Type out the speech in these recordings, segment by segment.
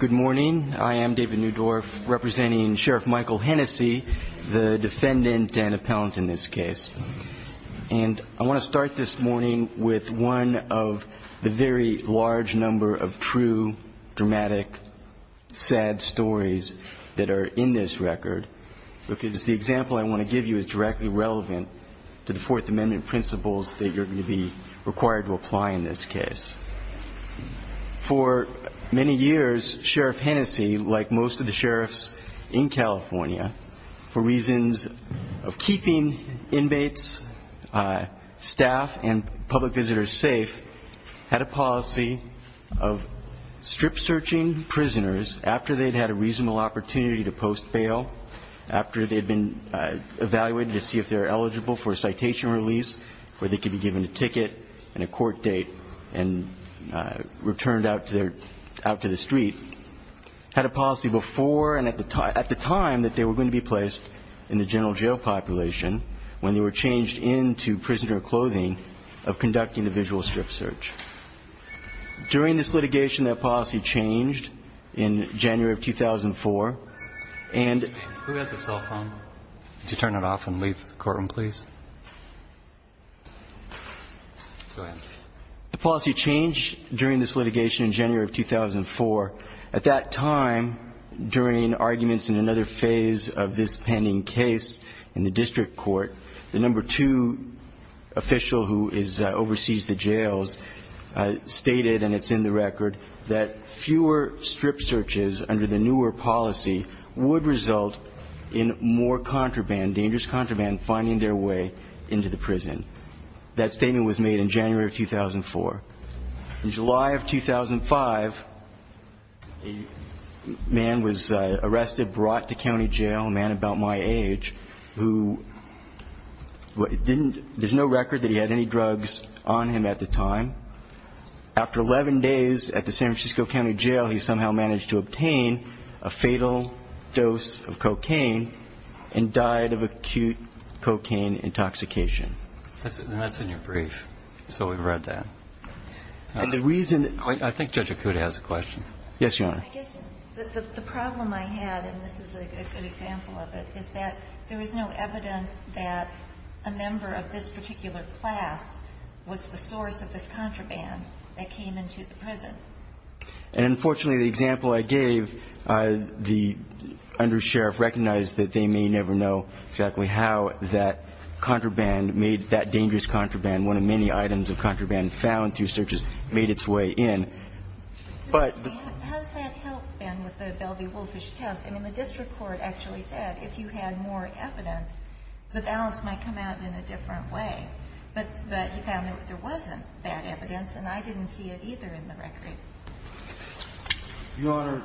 Good morning. I am David Newdorf representing Sheriff Michael Hennessy, the defendant and appellant in this case. And I want to start this morning with one of the very large number of true, dramatic, sad stories that are in this record. Because the example I want to in this case. For many years, Sheriff Hennessy, like most of the sheriffs in California, for reasons of keeping inmates, staff, and public visitors safe, had a policy of strip-searching prisoners after they'd had a reasonable opportunity to post bail, after they'd been evaluated to see if they were eligible for a citation release, where they had a court date and returned out to the street, had a policy before and at the time that they were going to be placed in the general jail population, when they were changed into prisoner clothing, of conducting a visual strip search. During this litigation, that policy changed in January of 2004, and... Who has a cell phone? Could you turn it off and leave the courtroom, please? The policy changed during this litigation in January of 2004. At that time, during arguments in another phase of this pending case in the district court, the number two official who oversees the jails stated, and it's in the record, that fewer strip searches under the newer policy would result in more contraband, dangerous contraband, finding their way into the prison. That statement was made in January of 2004. In July of 2005, a man was arrested, brought to county jail, a man about my age, who didn't, there's no record that he had any drugs on him at the time. After 11 days at the San Francisco County Jail, he somehow managed to obtain a fatal dose of cocaine and died of acute cocaine intoxication. And that's in your brief, so we've read that. And the reason, I think Judge Akuta has a question. Yes, Your Honor. I guess the problem I had, and this is a good example of it, is that there was no evidence that a member of this particular class was the source of this contraband that came into the prison. And unfortunately, the example I gave, the undersheriff recognized that they may never know exactly how that contraband may have made that dangerous contraband. One of many items of contraband found through searches made its way in. But the question is, how does that help, then, with the Belvey-Wolfish test? I mean, the district court actually said if you had more evidence, the balance might come out in a different way. But he found that there wasn't that evidence, and I didn't see it either in the record. Your Honor,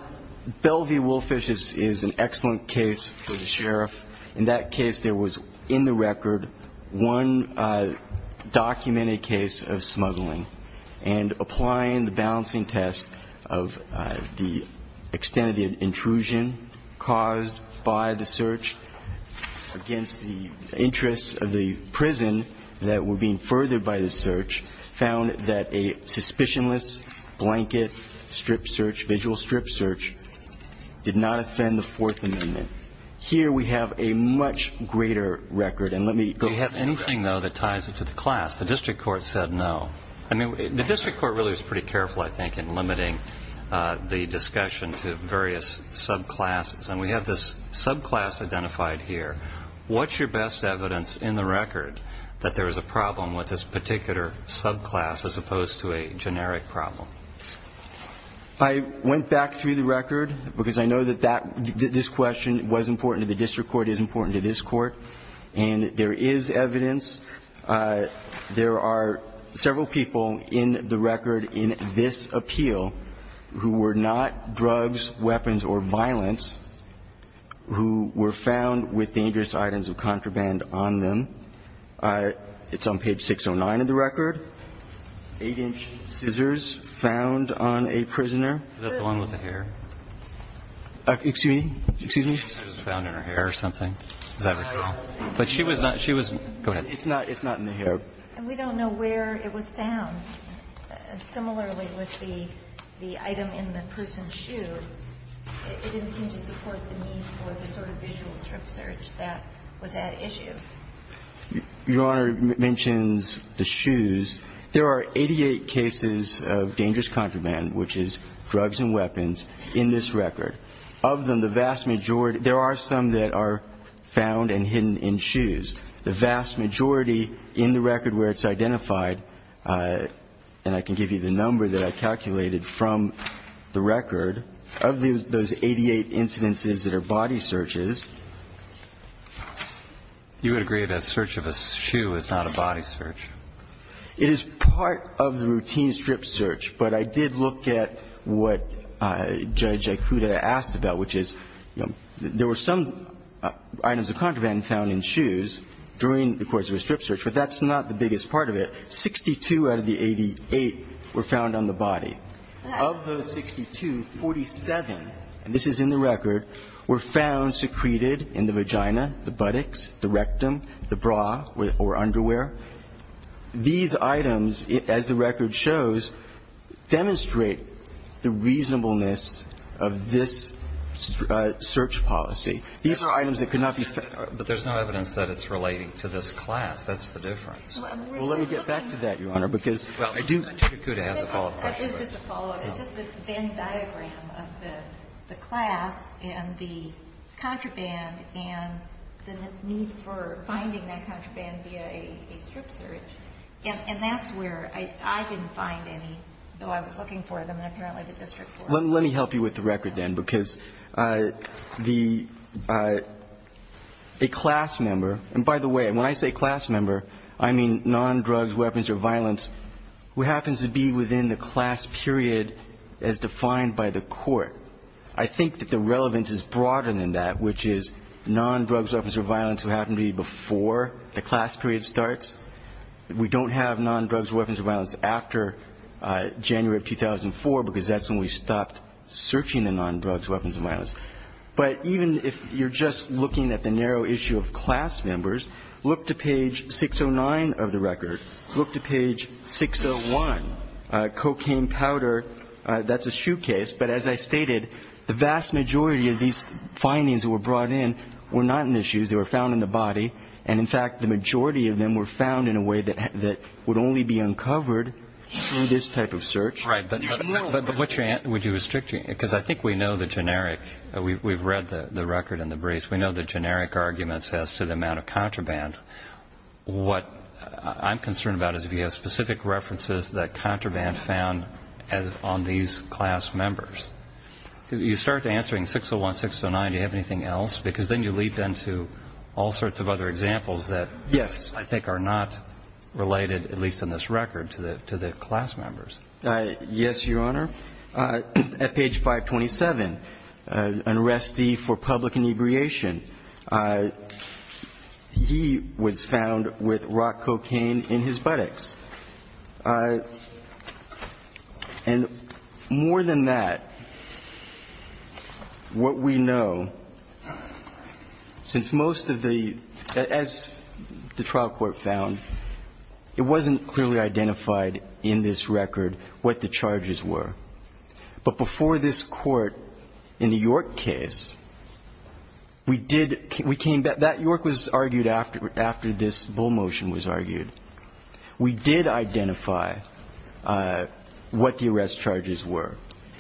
Belvey-Wolfish is an excellent case for the sheriff. In that case, there was in the record one documented case of smuggling. And applying the balancing test of the extent of the intrusion caused by the search against the interests of the prison that were being conducted, strip search, visual strip search, did not offend the Fourth Amendment. Here we have a much greater record. And let me go back to that. Do you have anything, though, that ties it to the class? The district court said no. I mean, the district court really was pretty careful, I think, in limiting the discussion to various subclasses. And we have this subclass identified here. What's your best evidence in the record that there is a problem with this particular subclass as opposed to a generic problem? I went back through the record, because I know that this question was important to the district court, is important to this court, and there is evidence. There are several people in the record in this appeal who were not drugs, weapons, or violence, who were found with dangerous items of contraband on them. It's on page 609 of the record. I'm not sure if there's any evidence that there were eight-inch scissors found on a prisoner. Is that the one with the hair? Excuse me? Excuse me? I thought it was found in her hair or something. But she was not go ahead. It's not in the hair. And we don't know where it was found. Similarly with the item in the person's shoe, it didn't seem to support the need for the sort of visual strip search that was at issue. Your Honor mentions the shoes. There are 88 cases of dangerous contraband, which is drugs and weapons, in this record. Of them, the vast majority there are some that are found and hidden in shoes. The vast majority in the record are found in shoes. The record where it's identified, and I can give you the number that I calculated from the record, of those 88 incidences that are body searches. You would agree that a search of a shoe is not a body search? It is part of the routine strip search, but I did look at what Judge Ikuda asked about, which is, you know, there were some items of contraband found in shoes during the course of a strip search, but that's not the biggest part of it. 62 out of the 88 were found on the body. Of those 62, 47, and this is in the record, were found secreted in the vagina, the buttocks, the rectum, the bra or underwear. These items, as the record shows, demonstrate the reasonableness of this search policy. These are items that could not be found. But there's no evidence that it's relating to this class. That's the difference. Well, let me get back to that, Your Honor, because I do think that Judge Ikuda has a follow-up question. It's just a follow-up. It's just this Venn diagram of the class and the contraband and the need for finding that contraband via a strip search, and that's where I didn't find any, though I was looking for them in apparently the district court. Let me help you with the record, then, because a class member, and by the way, when I say class member, I mean non-drugs, weapons, or violence who happens to be within the class period as defined by the court. I think that the relevance is broader than that, which is non-drugs, weapons, or violence who happen to be before the class period starts. We don't have non-drugs, weapons, or violence after January of 2004, because that's when we stopped searching the non-drugs, weapons, or violence. But even if you're just looking at the narrow issue of class members, look to page 609 of the record. Look to page 601. Cocaine powder, that's a shoe case, but as I stated, the vast majority of these findings that were brought in were not in the shoes, they were found in the body, and in fact, the majority of them were found in a way that would only be uncovered through this type of search. But would you restrict me, because I think we know the generic, we've read the record and the briefs, we know the generic arguments as to the amount of contraband. What I'm concerned about is if you have specific references that contraband found on these class members. You start answering 601, 609, do you have anything else? Because then you leap into all sorts of other examples that I think are not related, at least in this record, to the class members. Yes, Your Honor. At page 527, an arrestee for public inebriation, he was found with rock cocaine in his buttocks. And more than that, what we know, since most of the, as the trial court found, it wasn't clearly identified in this record what the charges were. But before this court, in the York case, we did, we came back, that York was argued after this bull motion was argued. We did identify what the arrest charges were.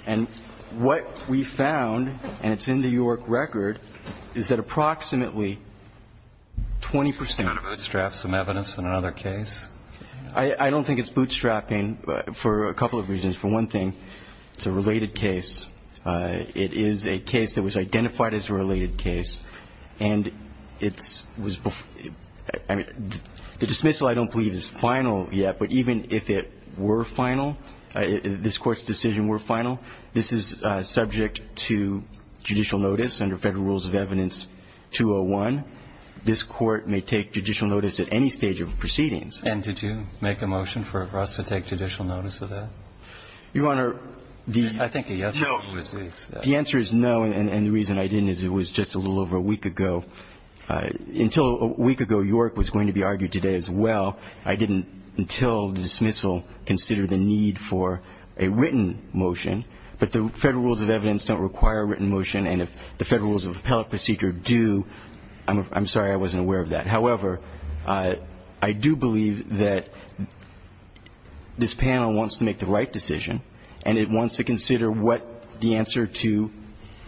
And what we found, and it's in the York record, is that approximately 20 percent... Can you kind of bootstrap some evidence in another case? I don't think it's bootstrapping for a couple of reasons. For one thing, it's a related case. It is a case that was identified as a related case, and it's, I mean, the dismissal I don't believe is final yet, but even if it were final, this Court's decision were final, this is subject to judicial notice under Federal Rules of Evidence 201. This Court may take judicial notice at any stage of proceedings. And did you make a motion for us to take judicial notice of that? Your Honor, the answer is no, and the reason I didn't is it was just a little over a week ago. Until a week ago, York was going to be argued today as well. I didn't, until the dismissal, consider the need for a written motion. But the Federal Rules of Evidence don't require a written motion, and if the Federal Rules of Appellate Procedure do, I'm sorry, I wasn't aware of that. However, I do believe that this panel wants to make the right decision, and it wants to consider what the answer to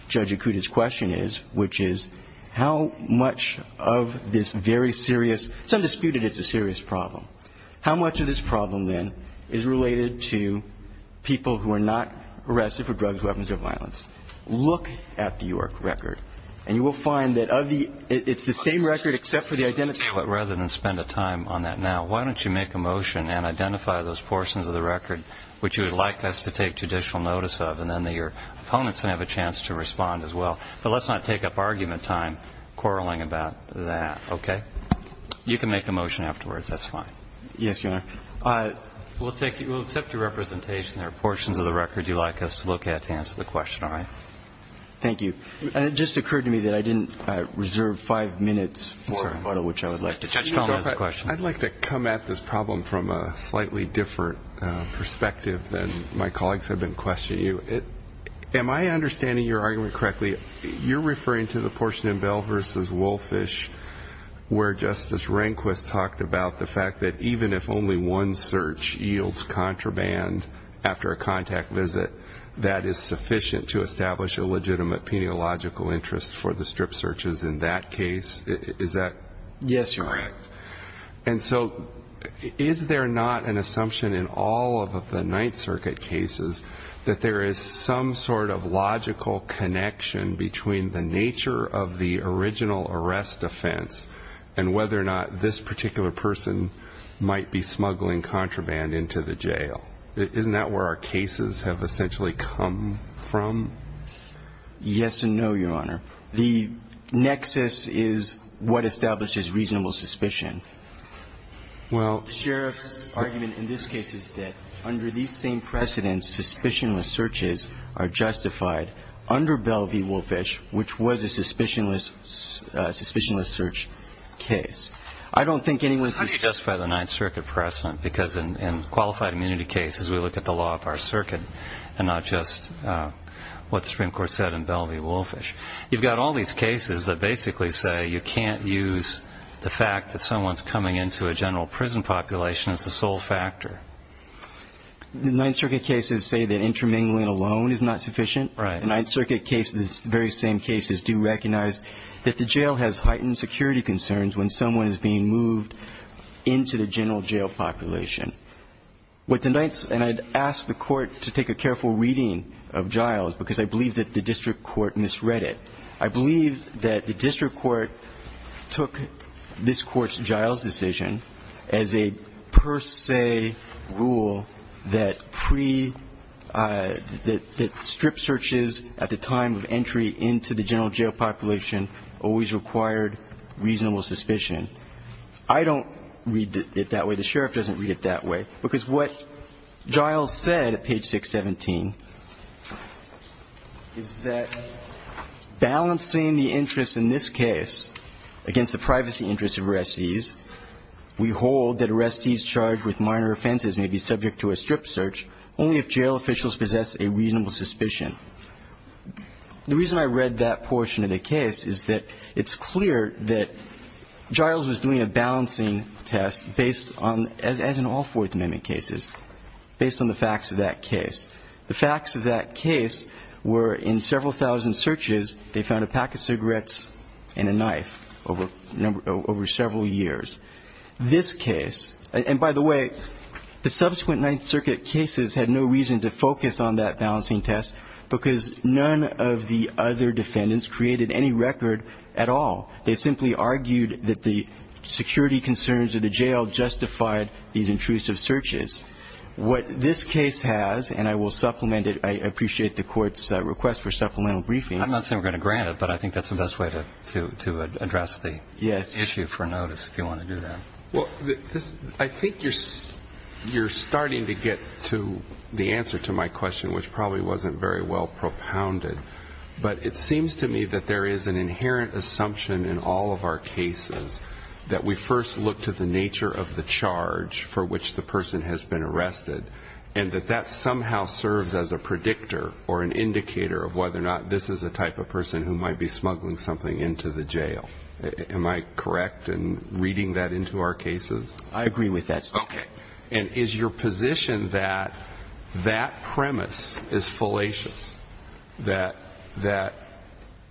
Judge Akuta's question is, which is how much of this very serious, some dispute that it's a serious problem. How much of this problem, then, is related to people who are not arrested for drugs, weapons, or violence? And I think it's important for us to look at the York record. And you will find that of the – it's the same record except for the identity. But rather than spend a time on that now, why don't you make a motion and identify those portions of the record which you would like us to take judicial notice of, and then your opponents can have a chance to respond as well. But let's not take up argument time quarreling about that, okay? You can make a motion afterwards. That's fine. Yes, Your Honor. We'll take – we'll accept your representation. There are portions of the record you'd like us to look at to answer the question, all right? Thank you. And it just occurred to me that I didn't reserve five minutes for a photo, which I would like to show. Judge Stone has a question. I'd like to come at this problem from a slightly different perspective than my colleagues have been questioning you. Am I understanding your argument correctly? You're referring to the portion in Bell v. Wolfish where Justice Rehnquist talked about the fact that even if only one search yields contraband after a contact visit, that is sufficient to establish a legitimate peniological interest for the strip searches in that case. Is that correct? Yes, Your Honor. And so is there not an assumption in all of the Ninth Circuit cases that there is some sort of logical connection between the nature of the original arrest offense and whether or not this particular person might be smuggling contraband into the jail? Isn't that where our cases have essentially come from? Yes and no, Your Honor. The nexus is what establishes reasonable suspicion. The sheriff's argument in this case is that under these same precedents, suspicionless searches are justified under Bell v. Wolfish, which was a suspicionless search case. I don't think anyone can justify the Ninth Circuit precedent because in qualified immunity cases we look at the law of our circuit and not just what the Supreme Court said in Bell v. Wolfish. You've got all these cases that basically say you can't use the fact that someone's coming into a general prison population as the sole factor. The Ninth Circuit cases say that intermingling alone is not sufficient. Right. The Ninth Circuit cases, the very same cases, do recognize that the jail has heightened security concerns when someone is being moved into the general jail population. What the Ninth, and I'd ask the Court to take a careful reading of Giles because I believe that the district court misread it. I believe that the district court took this Court's Giles decision as a per se rule that pre- that strip searches at the time of entry into the general jail population always required reasonable suspicion. I don't read it that way. The sheriff doesn't read it that way. Because what Giles said at page 617 is that balancing the interest in this case against the privacy interest of arrestees, we hold that arrestees charged with minor offenses may be subject to a strip search only if jail officials possess a reasonable suspicion. The reason I read that portion of the case is that it's clear that Giles was doing a balancing test based on, as in all Fourth Amendment cases, based on the facts of that case. The facts of that case were in several thousand searches, they found a pack of cigarettes and a knife over several years. This case, and by the way, the subsequent Ninth Circuit cases had no reason to focus on that balancing test because none of the other defendants created any record at all. They simply argued that the security concerns of the jail justified these intrusive searches. What this case has, and I will supplement it, I appreciate the Court's request for supplemental briefing. I'm not saying we're going to grant it, but I think that's the best way to address the issue for notice if you want to do that. Well, I think you're starting to get to the answer to my question, which probably wasn't very well propounded. But it seems to me that there is an inherent assumption in all of our cases that we first look to the nature of the charge for which the person has been arrested and that that somehow serves as a predictor or an indicator of whether or not this is the type of person who might be smuggling something into the jail. Am I correct in reading that into our cases? I agree with that. Okay. And is your position that that premise is fallacious, that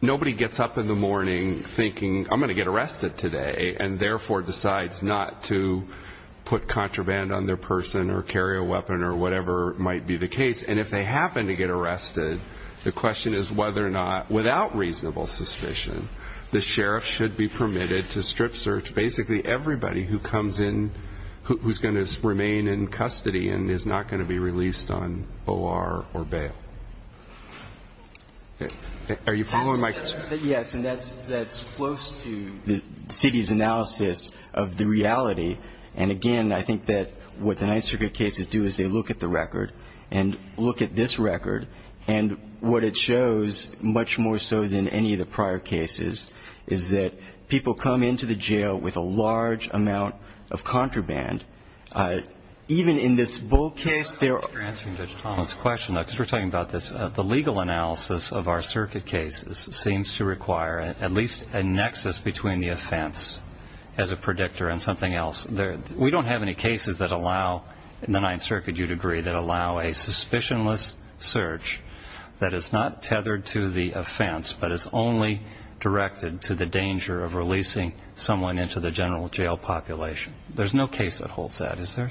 nobody gets up in the morning thinking, I'm going to get arrested today, and therefore decides not to put contraband on their person or carry a weapon or whatever might be the case, and if they happen to get arrested, the question is whether or not, without reasonable suspicion, the sheriff should be permitted to strip search basically everybody who comes in, who's going to remain in custody and is not going to be released on O.R. or bail? Are you following my question? Yes. And that's close to the city's analysis of the reality. And, again, I think that what the Ninth Circuit cases do is they look at the record and look at this record, and what it shows, much more so than any of the prior cases, is that people come into the jail with a large amount of contraband. Even in this Bull case, there are ---- You're answering Judge Tomlin's question, though, because we're talking about this. The legal analysis of our circuit cases seems to require at least a nexus between the offense as a predictor and something else. We don't have any cases that allow, in the Ninth Circuit, you'd agree, that allow a suspicionless search that is not tethered to the offense but is only directed to the danger of releasing someone into the general jail population. There's no case that holds that, is there?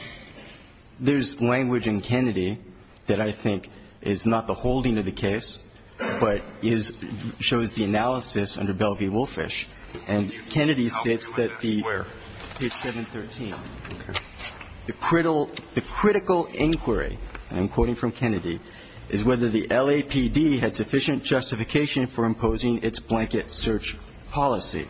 There's language in Kennedy that I think is not the holding of the case but shows the analysis under Belle v. Woolfish. And Kennedy states that the ---- The critical inquiry, I'm quoting from Kennedy, is whether the LAPD had sufficient justification for imposing its blanket search policy.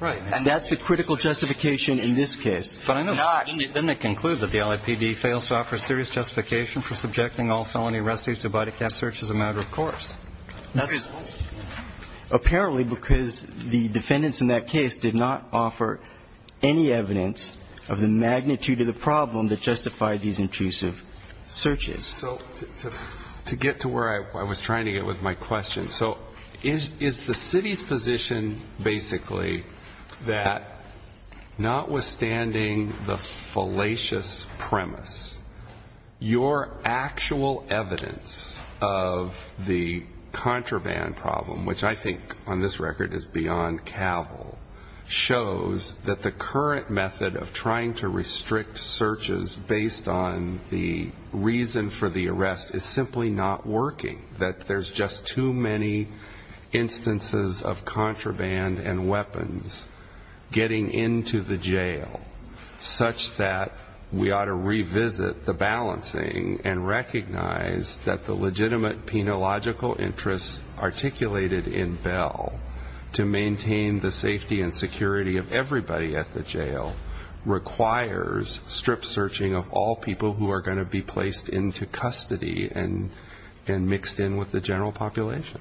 Right. And that's the critical justification in this case, not ---- But I know. Didn't it conclude that the LAPD fails to offer serious justification for subjecting all felony arrestees to body cap search as a matter of course? That's apparently because the defendants in that case did not offer any evidence of the magnitude of the problem that justified these intrusive searches. So to get to where I was trying to get with my question, so is the city's position basically that notwithstanding the fallacious premise, your actual evidence of the contraband problem, which I think on this record is beyond cavil, shows that the current method of trying to restrict searches based on the reason for the arrest is simply not working, that there's just too many instances of contraband and weapons getting into the jail such that we ought to revisit the balancing and recognize that the legitimate penological interests articulated in Bell to maintain the safety and security of everybody at the jail requires strip searching of all people who are going to be placed into custody and mixed in with the general population?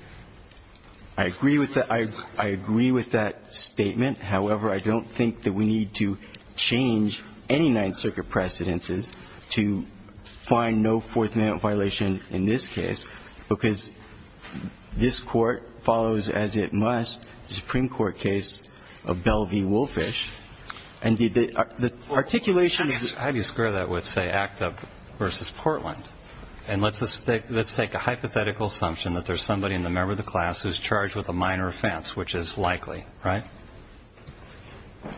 I agree with that. I agree with that statement. However, I don't think that we need to change any Ninth Circuit precedences to find no Fourth Amendment violation in this case because this Court follows as it must the Supreme Court case of Bell v. Woolfish. And the articulation is the same. How do you square that with, say, ACTA versus Portland? And let's take a hypothetical assumption that there's somebody in the member of the class who's charged with a minor offense, which is likely, right?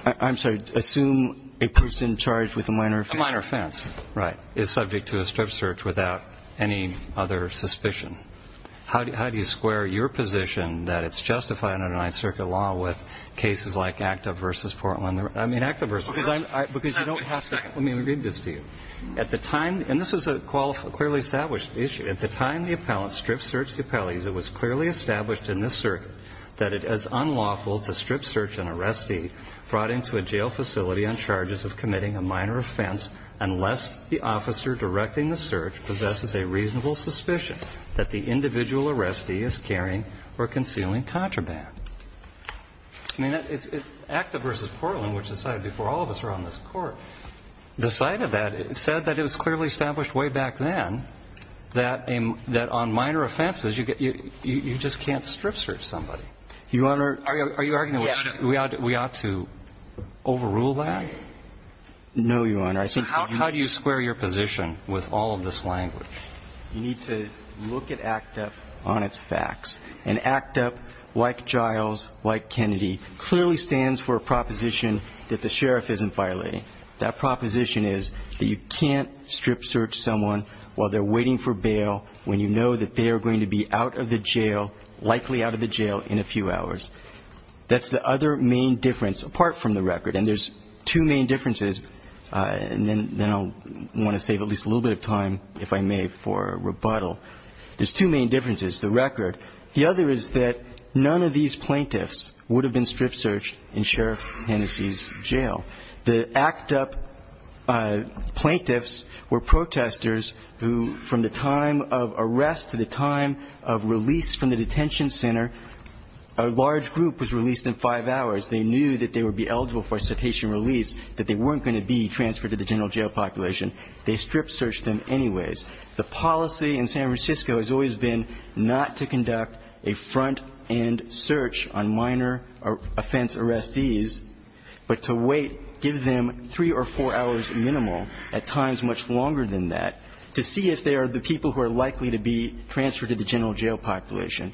I'm sorry. Assume a person charged with a minor offense. A minor offense, right, is subject to a strip search without any other suspicion. How do you square your position that it's justified under Ninth Circuit law with cases like ACTA versus Portland? I mean, ACTA versus, because you don't have to. Let me read this to you. At the time, and this is a clearly established issue, at the time the appellant strip searched the appellees, it was clearly established in this circuit that it is unlawful to strip search an arrestee brought into a jail facility on charges of committing a minor offense unless the officer directing the search possesses a reasonable suspicion that the individual arrestee is carrying or concealing contraband. I mean, ACTA versus Portland, which is decided before all of us are on this Court, the site of that said that it was clearly established way back then that on minor offenses you just can't strip search somebody. Your Honor. Are you arguing we ought to overrule that? No, Your Honor. So how do you square your position with all of this language? You need to look at ACTA on its facts. And ACTA, like Giles, like Kennedy, clearly stands for a proposition that the sheriff isn't violating. That proposition is that you can't strip search someone while they're waiting for bail when you know that they are going to be out of the jail, likely out of the jail, in a few hours. That's the other main difference, apart from the record. And there's two main differences, and then I'll want to save at least a little bit of time, if I may, for rebuttal. There's two main differences. The record, the other is that none of these plaintiffs would have been strip searched in Sheriff Hennessey's jail. The ACTA plaintiffs were protesters who, from the time of arrest to the time of release from the detention center, a large group was released in five hours. They knew that they would be eligible for a cetacean release, that they weren't going to be transferred to the general jail population. They strip searched them anyways. The policy in San Francisco has always been not to conduct a front-end search on minor offense arrestees, but to wait, give them three or four hours minimum, at times much longer than that, to see if they are the people who are likely to be transferred to the general jail population,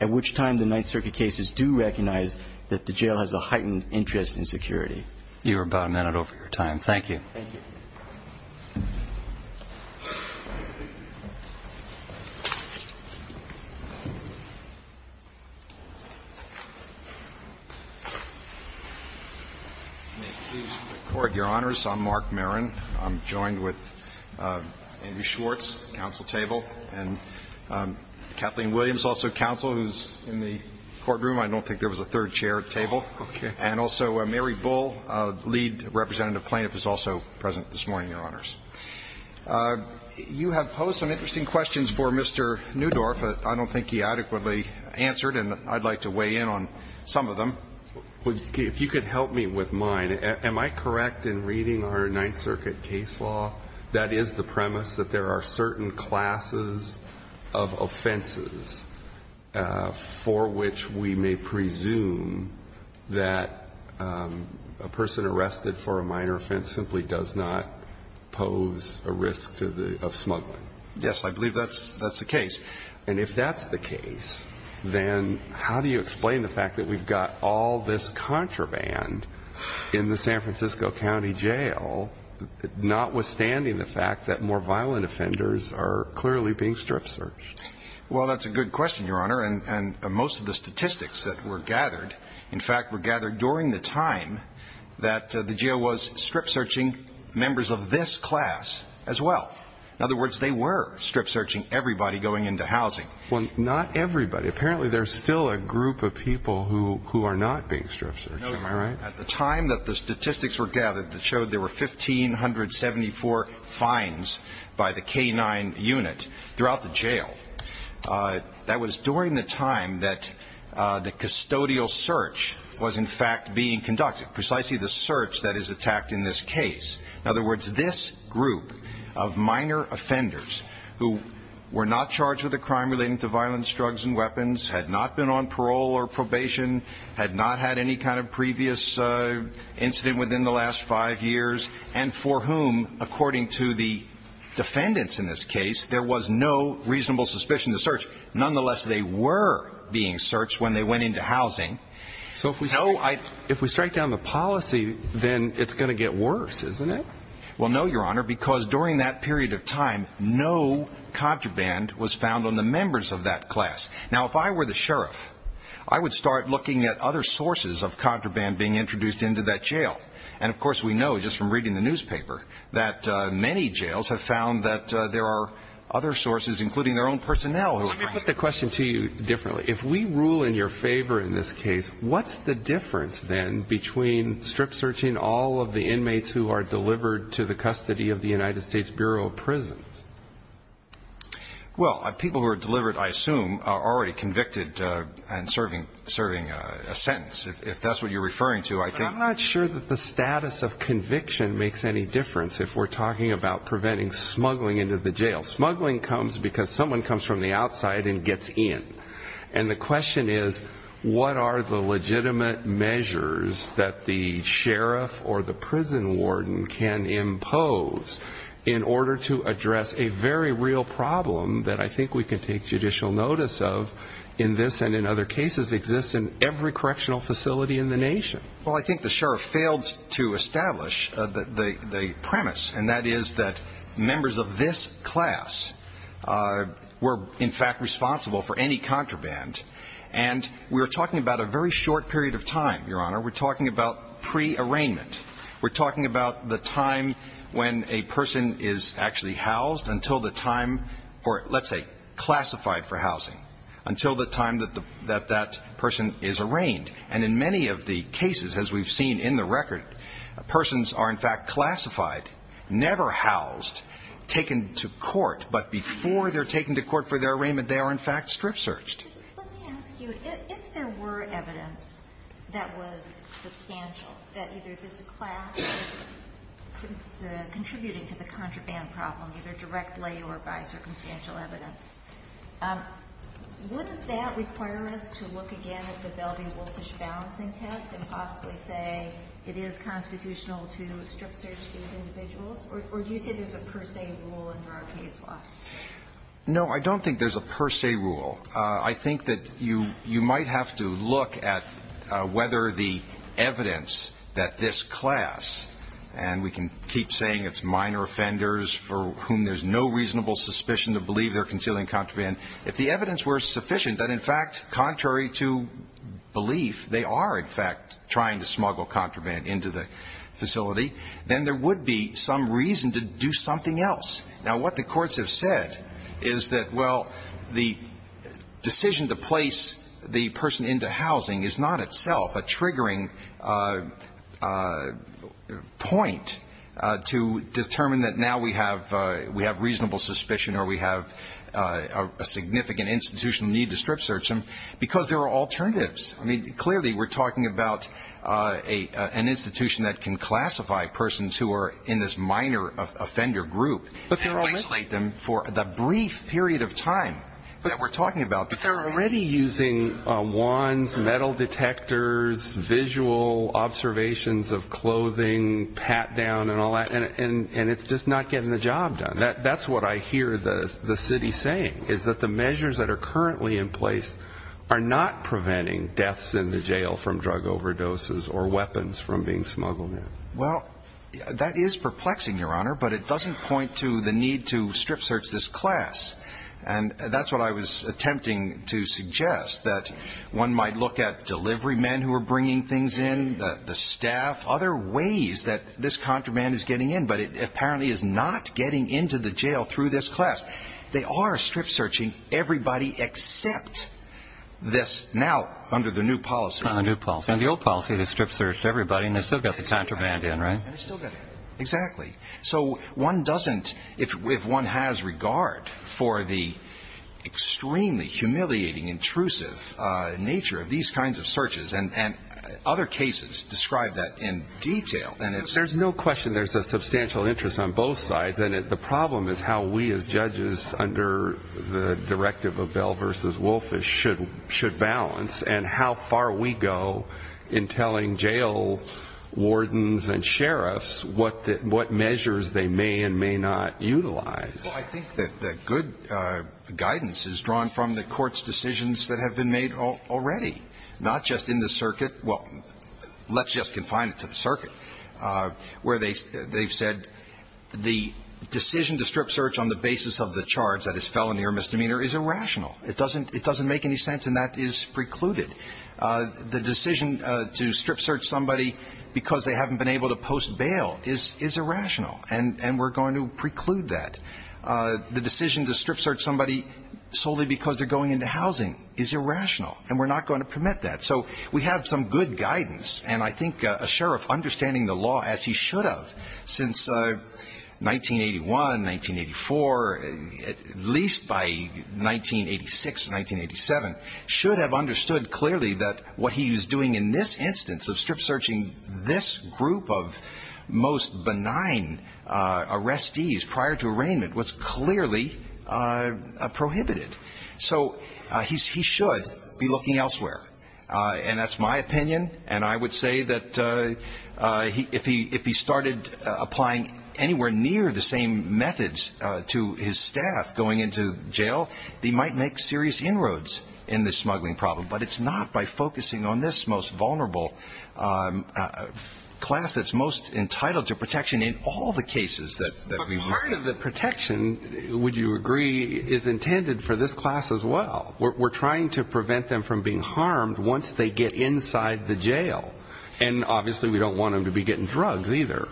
at which time the Ninth Circuit cases do recognize that the jail has a heightened interest in security. You were about a minute over your time. Thank you. Thank you. May it please the Court, Your Honors, I'm Mark Marin. I'm joined with Andy Schwartz, counsel table, and Kathleen Williams, also counsel, who's in the courtroom. I don't think there was a third chair at table. Okay. And also Mary Bull, lead representative plaintiff, is also present this morning, Your Honors. You have posed some interesting questions for Mr. Newdorf that I don't think he adequately answered, and I'd like to weigh in on some of them. If you could help me with mine. Am I correct in reading our Ninth Circuit case law that is the premise that there are certain classes of offenses for which we may presume that a person arrested for a minor offense simply does not pose a risk to the – of smuggling? Yes. I believe that's the case. And if that's the case, then how do you explain the fact that we've got all this contraband in the San Francisco County Jail, notwithstanding the fact that more violent offenders are clearly being strip-searched? Well, that's a good question, Your Honor. And most of the statistics that were gathered, in fact, were gathered during the time that the jail was strip-searching members of this class as well. In other words, they were strip-searching everybody going into housing. Well, not everybody. Apparently there's still a group of people who are not being strip-searched. Am I right? At the time that the statistics were gathered that showed there were 1,574 fines by the K-9 unit throughout the jail, that was during the time that the custodial search was, in fact, being conducted, precisely the search that is attacked in this case. In other words, this group of minor offenders who were not charged with a crime relating to violent drugs and weapons, had not been on parole or probation, had not had any kind of previous incident within the last five years, and for whom, according to the defendants in this case, there was no reasonable suspicion to search. Nonetheless, they were being searched when they went into housing. So if we strike down the policy, then it's going to get worse, isn't it? Well, no, Your Honor, because during that period of time, no contraband was found on the members of that class. Now, if I were the sheriff, I would start looking at other sources of contraband being introduced into that jail. And, of course, we know, just from reading the newspaper, that many jails have found that there are other sources, including their own personnel. Let me put the question to you differently. If we rule in your favor in this case, what's the difference then between strip-searching all of the inmates who are delivered to the custody of the United States Bureau of Prisons? Well, people who are delivered, I assume, are already convicted and serving a sentence. If that's what you're referring to, I think... But I'm not sure that the status of conviction makes any difference if we're talking about preventing smuggling into the jail. Smuggling comes because someone comes from the outside and gets in. And the question is, what are the legitimate measures that the sheriff or the prison warden can impose in order to address a very real problem that I think we can take judicial notice of in this and in other cases exist in every correctional facility in the nation? Well, I think the sheriff failed to establish the premise, and that is that members of this class were, in fact, responsible for any contraband. And we're talking about a very short period of time, Your Honor. We're talking about pre-arraignment. We're talking about the time when a person is actually housed until the time or, let's say, classified for housing, until the time that that person is arraigned. And in many of the cases, as we've seen in the record, persons are, in fact, classified, never housed, taken to court, but before they're taken to court for their arraignment, they are, in fact, strip-searched. Let me ask you, if there were evidence that was substantial, that either this class was contributing to the contraband problem, either directly or by circumstantial evidence, wouldn't that require us to look again at the Belvey-Wolfish balancing test and possibly say it is constitutional to strip-search these individuals? Or do you say there's a per se rule under our case law? No, I don't think there's a per se rule. I think that you might have to look at whether the evidence that this class, and we can keep saying it's minor offenders for whom there's no reasonable suspicion to believe they're concealing contraband, if the evidence were sufficient that, in fact, contrary to belief, they are, in fact, trying to smuggle contraband into the facility, then there would be some reason to do something else. Now, what the courts have said is that, well, the decision to place the person into housing is not itself a triggering point to determine that now we have reasonable suspicion or we have a significant institutional need to strip-search them because there are alternatives. I mean, clearly we're talking about an institution that can classify persons who are in this minor offender group. And isolate them for the brief period of time that we're talking about. But they're already using wands, metal detectors, visual observations of clothing, pat-down and all that, and it's just not getting the job done. That's what I hear the city saying is that the measures that are currently in place are not preventing deaths in the jail from drug overdoses or weapons from being smuggled in. Well, that is perplexing, Your Honor, but it doesn't point to the need to strip-search this class. And that's what I was attempting to suggest, that one might look at delivery men who are bringing things in, the staff, other ways that this contraband is getting in, but it apparently is not getting into the jail through this class. They are strip-searching everybody except this now under the new policy. The new policy. The old policy is strip-search everybody and they still get the contraband in, right? Exactly. So one doesn't, if one has regard for the extremely humiliating, intrusive nature of these kinds of searches, and other cases describe that in detail. There's no question there's a substantial interest on both sides. And the problem is how we as judges under the directive of Bell v. Wolfish should balance and how far we go in telling jail wardens and sheriffs what measures they may and may not utilize. Well, I think that good guidance is drawn from the court's decisions that have been made already, not just in the circuit. Well, let's just confine it to the circuit, where they've said the decision to strip-search on the basis of the charge that is felony or misdemeanor is irrational. It doesn't make any sense, and that is precluded. The decision to strip-search somebody because they haven't been able to post bail is irrational, and we're going to preclude that. The decision to strip-search somebody solely because they're going into housing is irrational, and we're not going to permit that. So we have some good guidance, and I think a sheriff understanding the law as he should have understood clearly that what he is doing in this instance of strip-searching this group of most benign arrestees prior to arraignment was clearly prohibited. So he should be looking elsewhere. And that's my opinion, and I would say that if he started applying anywhere near the same methods to his staff going into jail, he might make serious inroads in the smuggling problem, but it's not by focusing on this most vulnerable class that's most entitled to protection in all the cases that we've had. But part of the protection, would you agree, is intended for this class as well. We're trying to prevent them from being harmed once they get inside the jail, and obviously we don't want them to be getting drugs either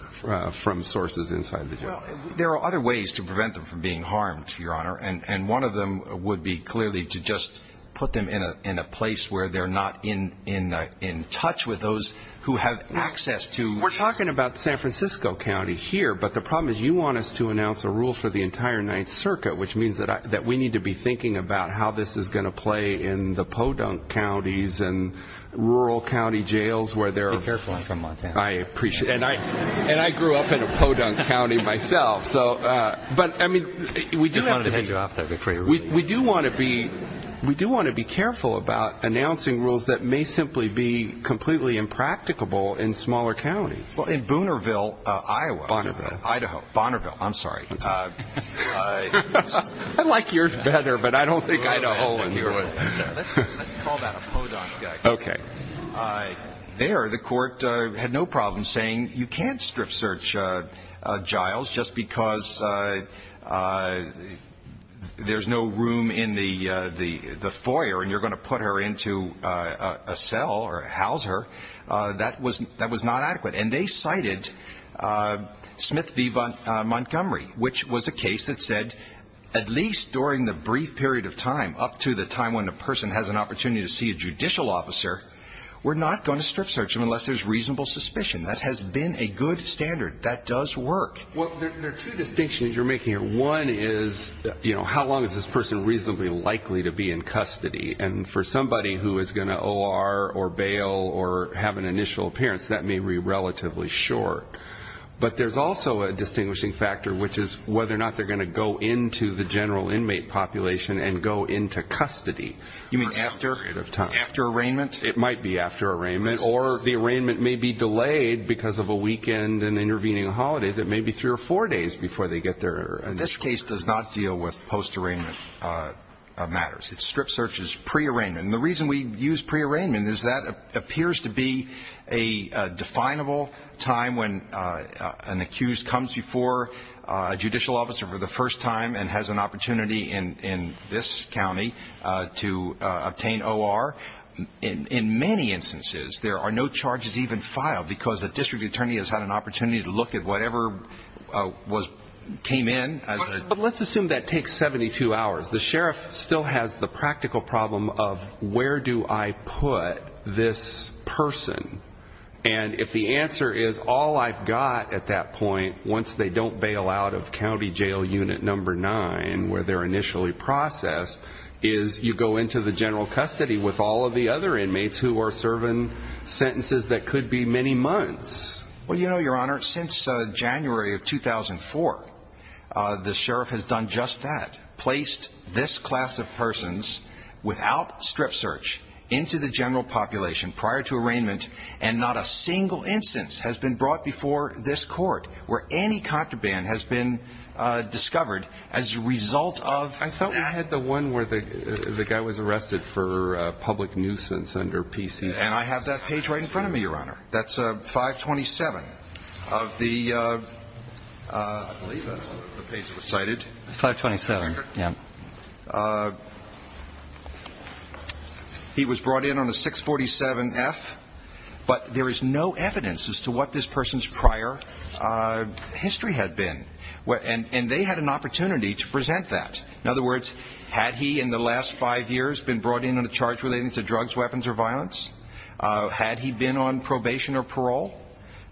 from sources inside the jail. There are other ways to prevent them from being harmed, Your Honor, and one of them would be clearly to just put them in a place where they're not in touch with those who have access to... We're talking about San Francisco County here, but the problem is you want us to announce a rule for the entire Ninth Circuit, which means that we need to be thinking about how this is going to play in the podunk counties and rural county jails where they're... Be careful, I'm from Montana. I appreciate it. And I grew up in a podunk county myself. But we do have to be careful about announcing rules that may simply be completely impracticable in smaller counties. Well, in Boonerville, Iowa. Bonnerville. Idaho. Bonnerville, I'm sorry. I like yours better, but I don't think Idaho would. Let's call that a podunk county. Okay. There the court had no problem saying you can't strip search Giles just because there's no room in the foyer and you're going to put her into a cell or house her. That was not adequate. And they cited Smith v. Montgomery, which was a case that said at least during the trial, we're not going to strip search him unless there's reasonable suspicion. That has been a good standard. That does work. Well, there are two distinctions you're making here. One is, you know, how long is this person reasonably likely to be in custody? And for somebody who is going to OR or bail or have an initial appearance, that may be relatively short. But there's also a distinguishing factor, which is whether or not they're going to go into the general inmate population and go into custody for some period of time. You mean after arraignment? It might be after arraignment. Or the arraignment may be delayed because of a weekend and intervening holidays. It may be three or four days before they get there. This case does not deal with post-arraignment matters. It strip searches pre-arraignment. And the reason we use pre-arraignment is that appears to be a definable time when an accused comes before a judicial officer for the first time and has an opportunity in this county to obtain OR. In many instances, there are no charges even filed because a district attorney has had an opportunity to look at whatever came in. But let's assume that takes 72 hours. The sheriff still has the practical problem of where do I put this person? And if the answer is, all I've got at that point, once they don't bail out of county jail unit number nine, where they're initially processed, is you go into the general custody with all of the other inmates who are serving sentences that could be many months. Well, you know, Your Honor, since January of 2004, the sheriff has done just that, placed this class of persons without strip search into the general population prior to arraignment, and not a single instance has been brought before this court where any contraband has been discovered as a result of that. I thought we had the one where the guy was arrested for public nuisance under PC. And I have that page right in front of me, Your Honor. That's 527 of the page recited. 527, yeah. He was brought in on a 647F, but there is no evidence as to what this person's prior history had been. And they had an opportunity to present that. In other words, had he in the last five years been brought in on a charge relating to drugs, weapons, or violence? Had he been on probation or parole?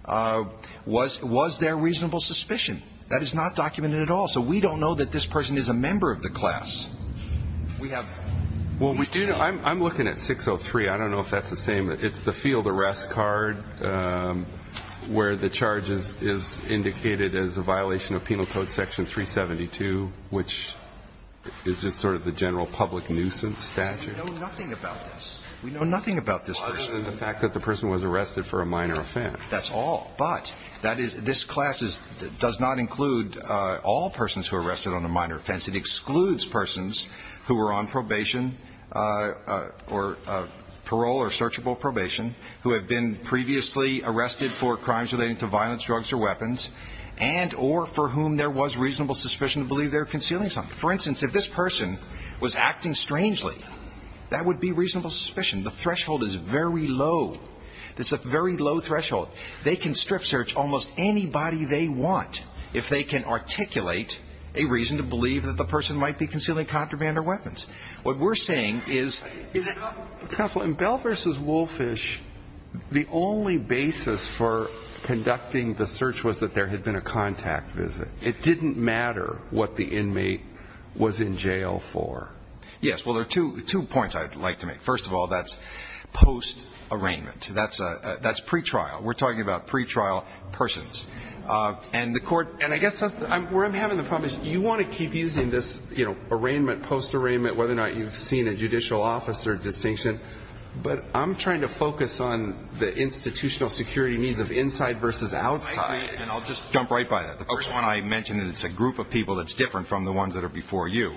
Was there reasonable suspicion? That is not documented at all. So we don't know that this person is a member of the class. Well, I'm looking at 603. I don't know if that's the same. It's the field arrest card where the charge is indicated as a violation of Penal Code Section 372, which is just sort of the general public nuisance statute. We know nothing about this. We know nothing about this person. Other than the fact that the person was arrested for a minor offense. That's all. But this class does not include all persons who are arrested on a minor offense. It excludes persons who were on probation or parole or searchable probation, who have been previously arrested for crimes relating to violence, drugs, or weapons, and or for whom there was reasonable suspicion to believe they were concealing something. For instance, if this person was acting strangely, that would be reasonable suspicion. The threshold is very low. It's a very low threshold. They can strip search almost anybody they want if they can articulate a reason to believe that the person might be concealing contraband or weapons. What we're saying is that ---- It didn't matter what the inmate was in jail for. Yes. Well, there are two points I'd like to make. First of all, that's post-arraignment. That's pretrial. We're talking about pretrial persons. And the Court ---- And I guess where I'm having the problem is you want to keep using this, you know, arraignment, post-arraignment, whether or not you've seen a judicial officer distinction. But I'm trying to focus on the institutional security needs of inside versus outside. And I'll just jump right by that. The first one I mentioned, it's a group of people that's different from the ones that are before you.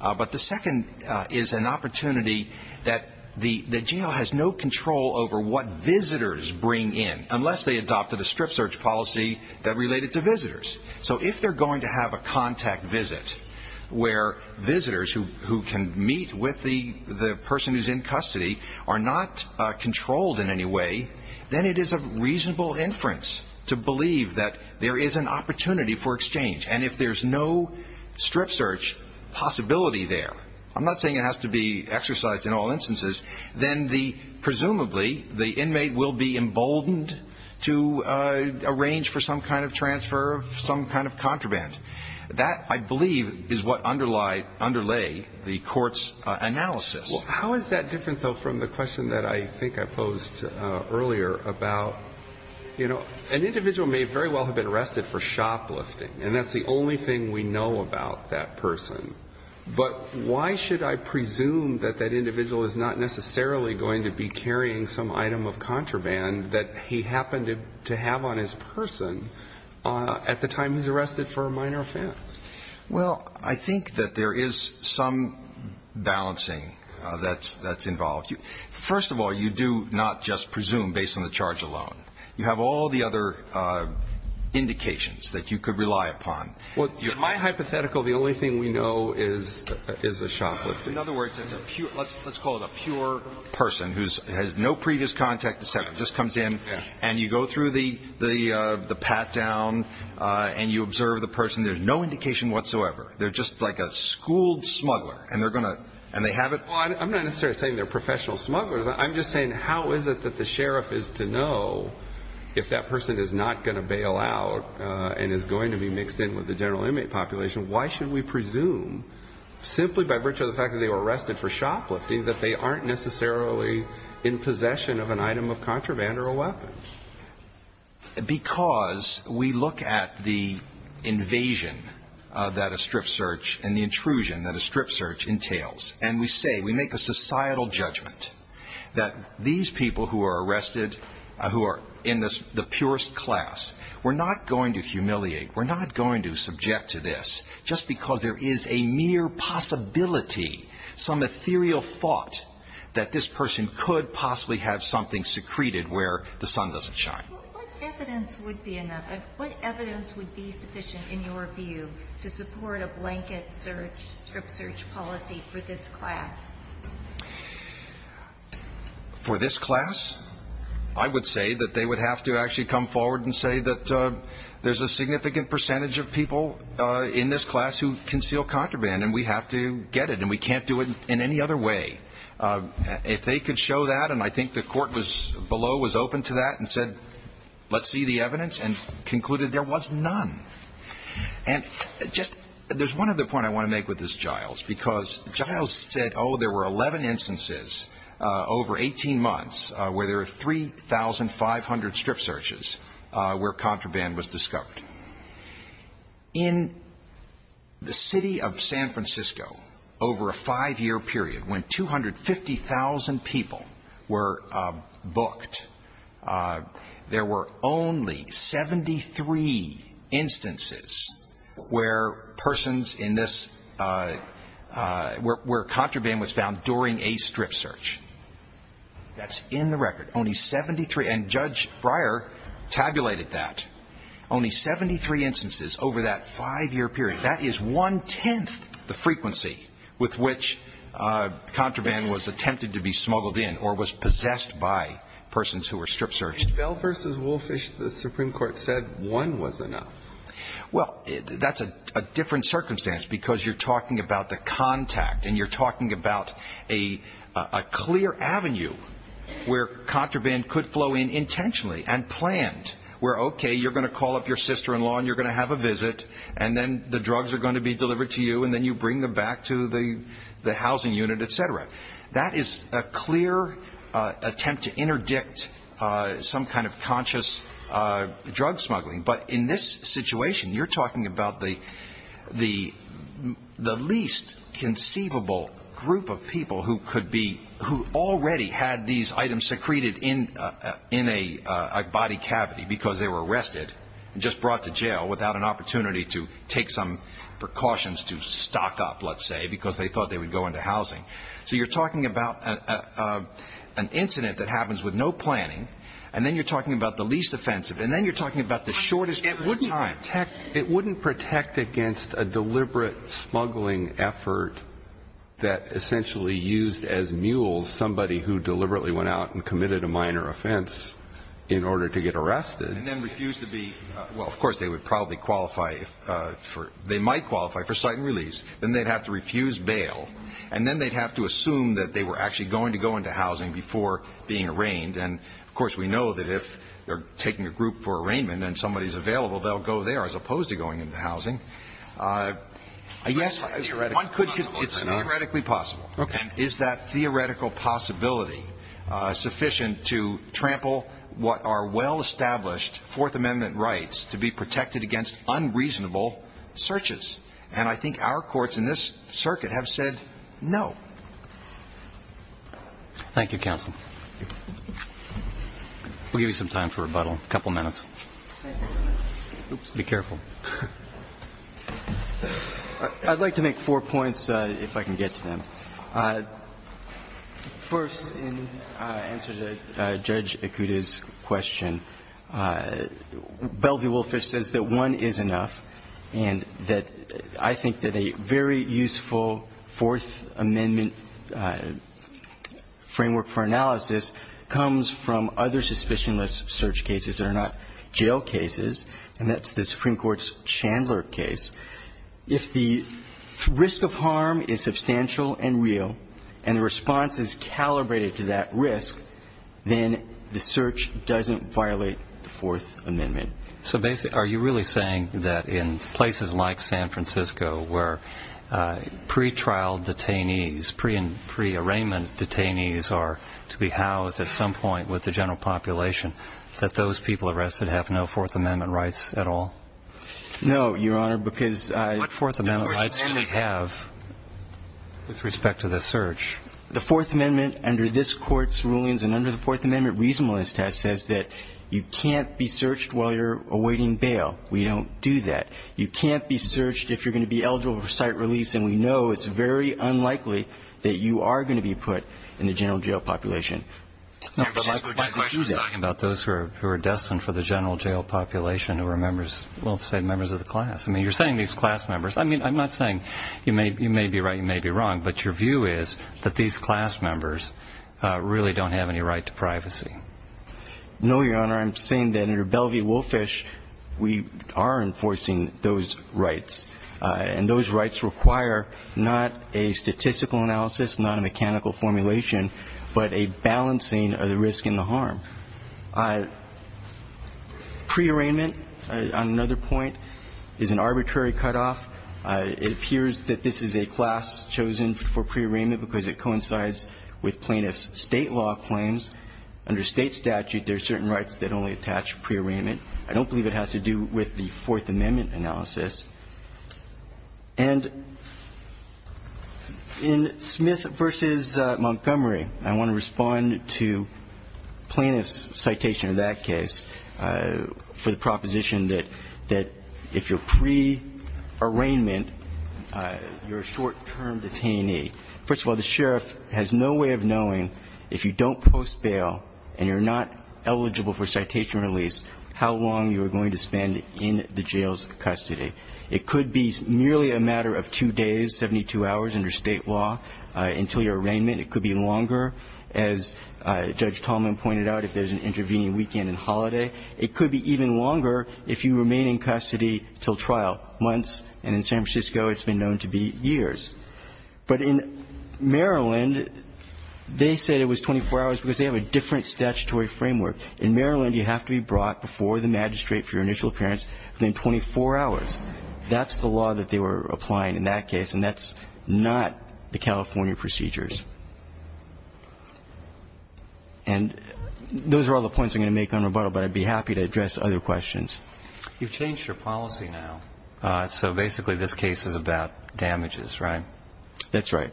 But the second is an opportunity that the jail has no control over what visitors bring in unless they adopted a strip search policy that related to visitors. So if they're going to have a contact visit where visitors who can meet with the person who's in custody are not controlled in any way, then it is a possibility for exchange. And if there's no strip search possibility there, I'm not saying it has to be exercised in all instances, then the ---- presumably the inmate will be emboldened to arrange for some kind of transfer of some kind of contraband. That, I believe, is what underlie ---- underlay the Court's analysis. Well, how is that different, though, from the question that I think I posed Well, the person may very well have been arrested for shoplifting, and that's the only thing we know about that person. But why should I presume that that individual is not necessarily going to be carrying some item of contraband that he happened to have on his person at the time he's arrested for a minor offense? Well, I think that there is some balancing that's involved. First of all, you do not just presume based on the charge alone. You have all the other indications that you could rely upon. Well, in my hypothetical, the only thing we know is a shoplifter. In other words, it's a pure ---- let's call it a pure person who has no previous contact, et cetera, just comes in and you go through the pat-down and you observe the person. There's no indication whatsoever. They're just like a schooled smuggler, and they're going to ---- and they have it Well, I'm not necessarily saying they're professional smugglers. I'm just saying how is it that the sheriff is to know if that person is not going to bail out and is going to be mixed in with the general inmate population? Why should we presume simply by virtue of the fact that they were arrested for shoplifting that they aren't necessarily in possession of an item of contraband or a weapon? Because we look at the invasion that a strip search and the intrusion that a strip search entails, and we say, we make a societal judgment that these people who are arrested, who are in the purest class, we're not going to humiliate, we're not going to subject to this just because there is a mere possibility, some ethereal thought that this person could possibly have something secreted where the sun doesn't shine. What evidence would be sufficient in your view to support a blanket strip search policy for this class? For this class, I would say that they would have to actually come forward and say that there's a significant percentage of people in this class who conceal contraband, and we have to get it, and we can't do it in any other way. If they could show that, and I think the court below was open to that and said, let's see the evidence, and concluded there was none. And just, there's one other point I want to make with this, Giles, because Giles said, oh, there were 11 instances over 18 months where there were 3,500 strip searches where contraband was discovered. In the city of San Francisco, over a five-year period, when 250,000 people were smuggled in, there were only 73 instances where persons in this, where contraband was found during a strip search. That's in the record. Only 73. And Judge Breyer tabulated that. Only 73 instances over that five-year period. That is one-tenth the frequency with which contraband was attempted to be smuggled in or was possessed by persons who were strip searched. Bell v. Wolfish, the Supreme Court said one was enough. Well, that's a different circumstance because you're talking about the contact, and you're talking about a clear avenue where contraband could flow in intentionally and planned, where, okay, you're going to call up your sister-in-law, and you're going to have a visit, and then the drugs are going to be delivered to you, and then you bring them back to the housing unit, et cetera. That is a clear attempt to interdict some kind of conscious drug smuggling. But in this situation, you're talking about the least conceivable group of people who could be, who already had these items secreted in a body cavity because they were arrested and just brought to jail without an opportunity to take some precautions to stock up, let's say, because they thought they would go into housing. So you're talking about an incident that happens with no planning, and then you're talking about the least offensive, and then you're talking about the shortest period of time. It wouldn't protect against a deliberate smuggling effort that essentially used as mules somebody who deliberately went out and committed a minor offense in order to get arrested. And then refused to be – well, of course, they would probably qualify for – they would probably qualify for bail, and then they'd have to refuse bail, and then they'd have to assume that they were actually going to go into housing before being arraigned. And, of course, we know that if they're taking a group for arraignment and somebody is available, they'll go there as opposed to going into housing. I guess one could – it's theoretically possible. And is that theoretical possibility sufficient to trample what are well-established Fourth Amendment rights to be protected against unreasonable searches? And I think our courts in this circuit have said no. Thank you, counsel. We'll give you some time for rebuttal. A couple minutes. Be careful. I'd like to make four points, if I can get to them. First, in answer to Judge Ikuda's question, Bellevue-Wolfish says that one is enough and that I think that a very useful Fourth Amendment framework for analysis comes from other suspicionless search cases that are not jail cases, and that's the Supreme Court's Chandler case. If the risk of harm is substantial and real and the response is calibrated to that risk, then the search doesn't violate the Fourth Amendment. So are you really saying that in places like San Francisco where pre-trial detainees, pre-arraignment detainees are to be housed at some point with the general population, that those people arrested have no Fourth Amendment rights at all? No, Your Honor, because I What Fourth Amendment rights can they have with respect to the search? The Fourth Amendment under this Court's rulings and under the Fourth Amendment reasonableness test says that you can't be searched while you're awaiting bail. We don't do that. You can't be searched if you're going to be eligible for site release, and we know it's very unlikely that you are going to be put in the general jail population. My question is talking about those who are destined for the general jail population who are members, let's say, members of the class. I mean, you're saying these class members. I mean, I'm not saying you may be right, you may be wrong, but your view is that these class members really don't have any right to privacy. No, Your Honor. I'm saying that under Belle v. Wolfish we are enforcing those rights, and those rights require not a statistical analysis, not a mechanical formulation, but a balancing of the risk and the harm. Pre-arraignment, on another point, is an arbitrary cutoff. It appears that this is a class chosen for pre-arraignment because it coincides with plaintiffs' state law claims. Under state statute, there are certain rights that only attach pre-arraignment. I don't believe it has to do with the Fourth Amendment analysis. And in Smith v. Montgomery, I want to respond to plaintiffs' citation in that case for the proposition that if you're pre-arraignment, you're a short-term detainee. First of all, the sheriff has no way of knowing if you don't post bail and you're not eligible for citation release, how long you are going to spend in the jail's custody. It could be nearly a matter of two days, 72 hours under state law until your arraignment. It could be longer, as Judge Tallman pointed out, if there's an intervening weekend and holiday. It could be even longer if you remain in custody until trial, months. And in San Francisco, it's been known to be years. But in Maryland, they said it was 24 hours because they have a different statutory framework. In Maryland, you have to be brought before the magistrate for your initial appearance within 24 hours. That's the law that they were applying in that case, and that's not the California procedures. And those are all the points I'm going to make on rebuttal, but I'd be happy to address other questions. You've changed your policy now, so basically this case is about damages, right? That's right.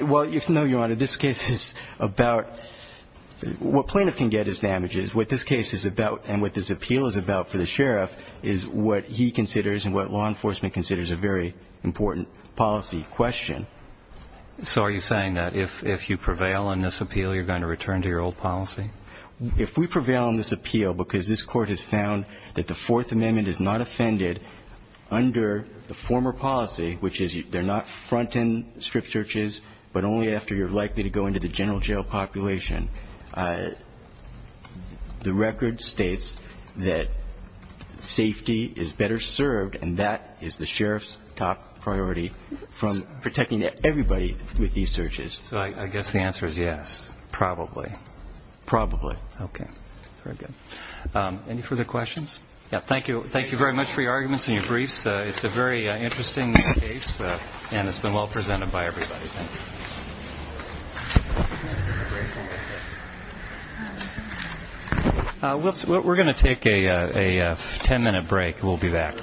Well, no, Your Honor, this case is about what plaintiff can get as damages. What this case is about and what this appeal is about for the sheriff is what he considers and what law enforcement considers a very important policy question. So are you saying that if you prevail on this appeal, you're going to return to your old policy? If we prevail on this appeal because this Court has found that the Fourth Amendment is not offended under the former policy, which is they're not front-end strip searches, but only after you're likely to go into the general jail population, the record states that safety is better served, and that is the sheriff's top priority from protecting everybody with these searches. So I guess the answer is yes. Probably. Probably. Okay. Very good. Any further questions? Yeah, thank you. Thank you very much for your arguments and your briefs. It's a very interesting case, and it's been well presented by everybody. Thank you. We're going to take a ten-minute break. We'll be back.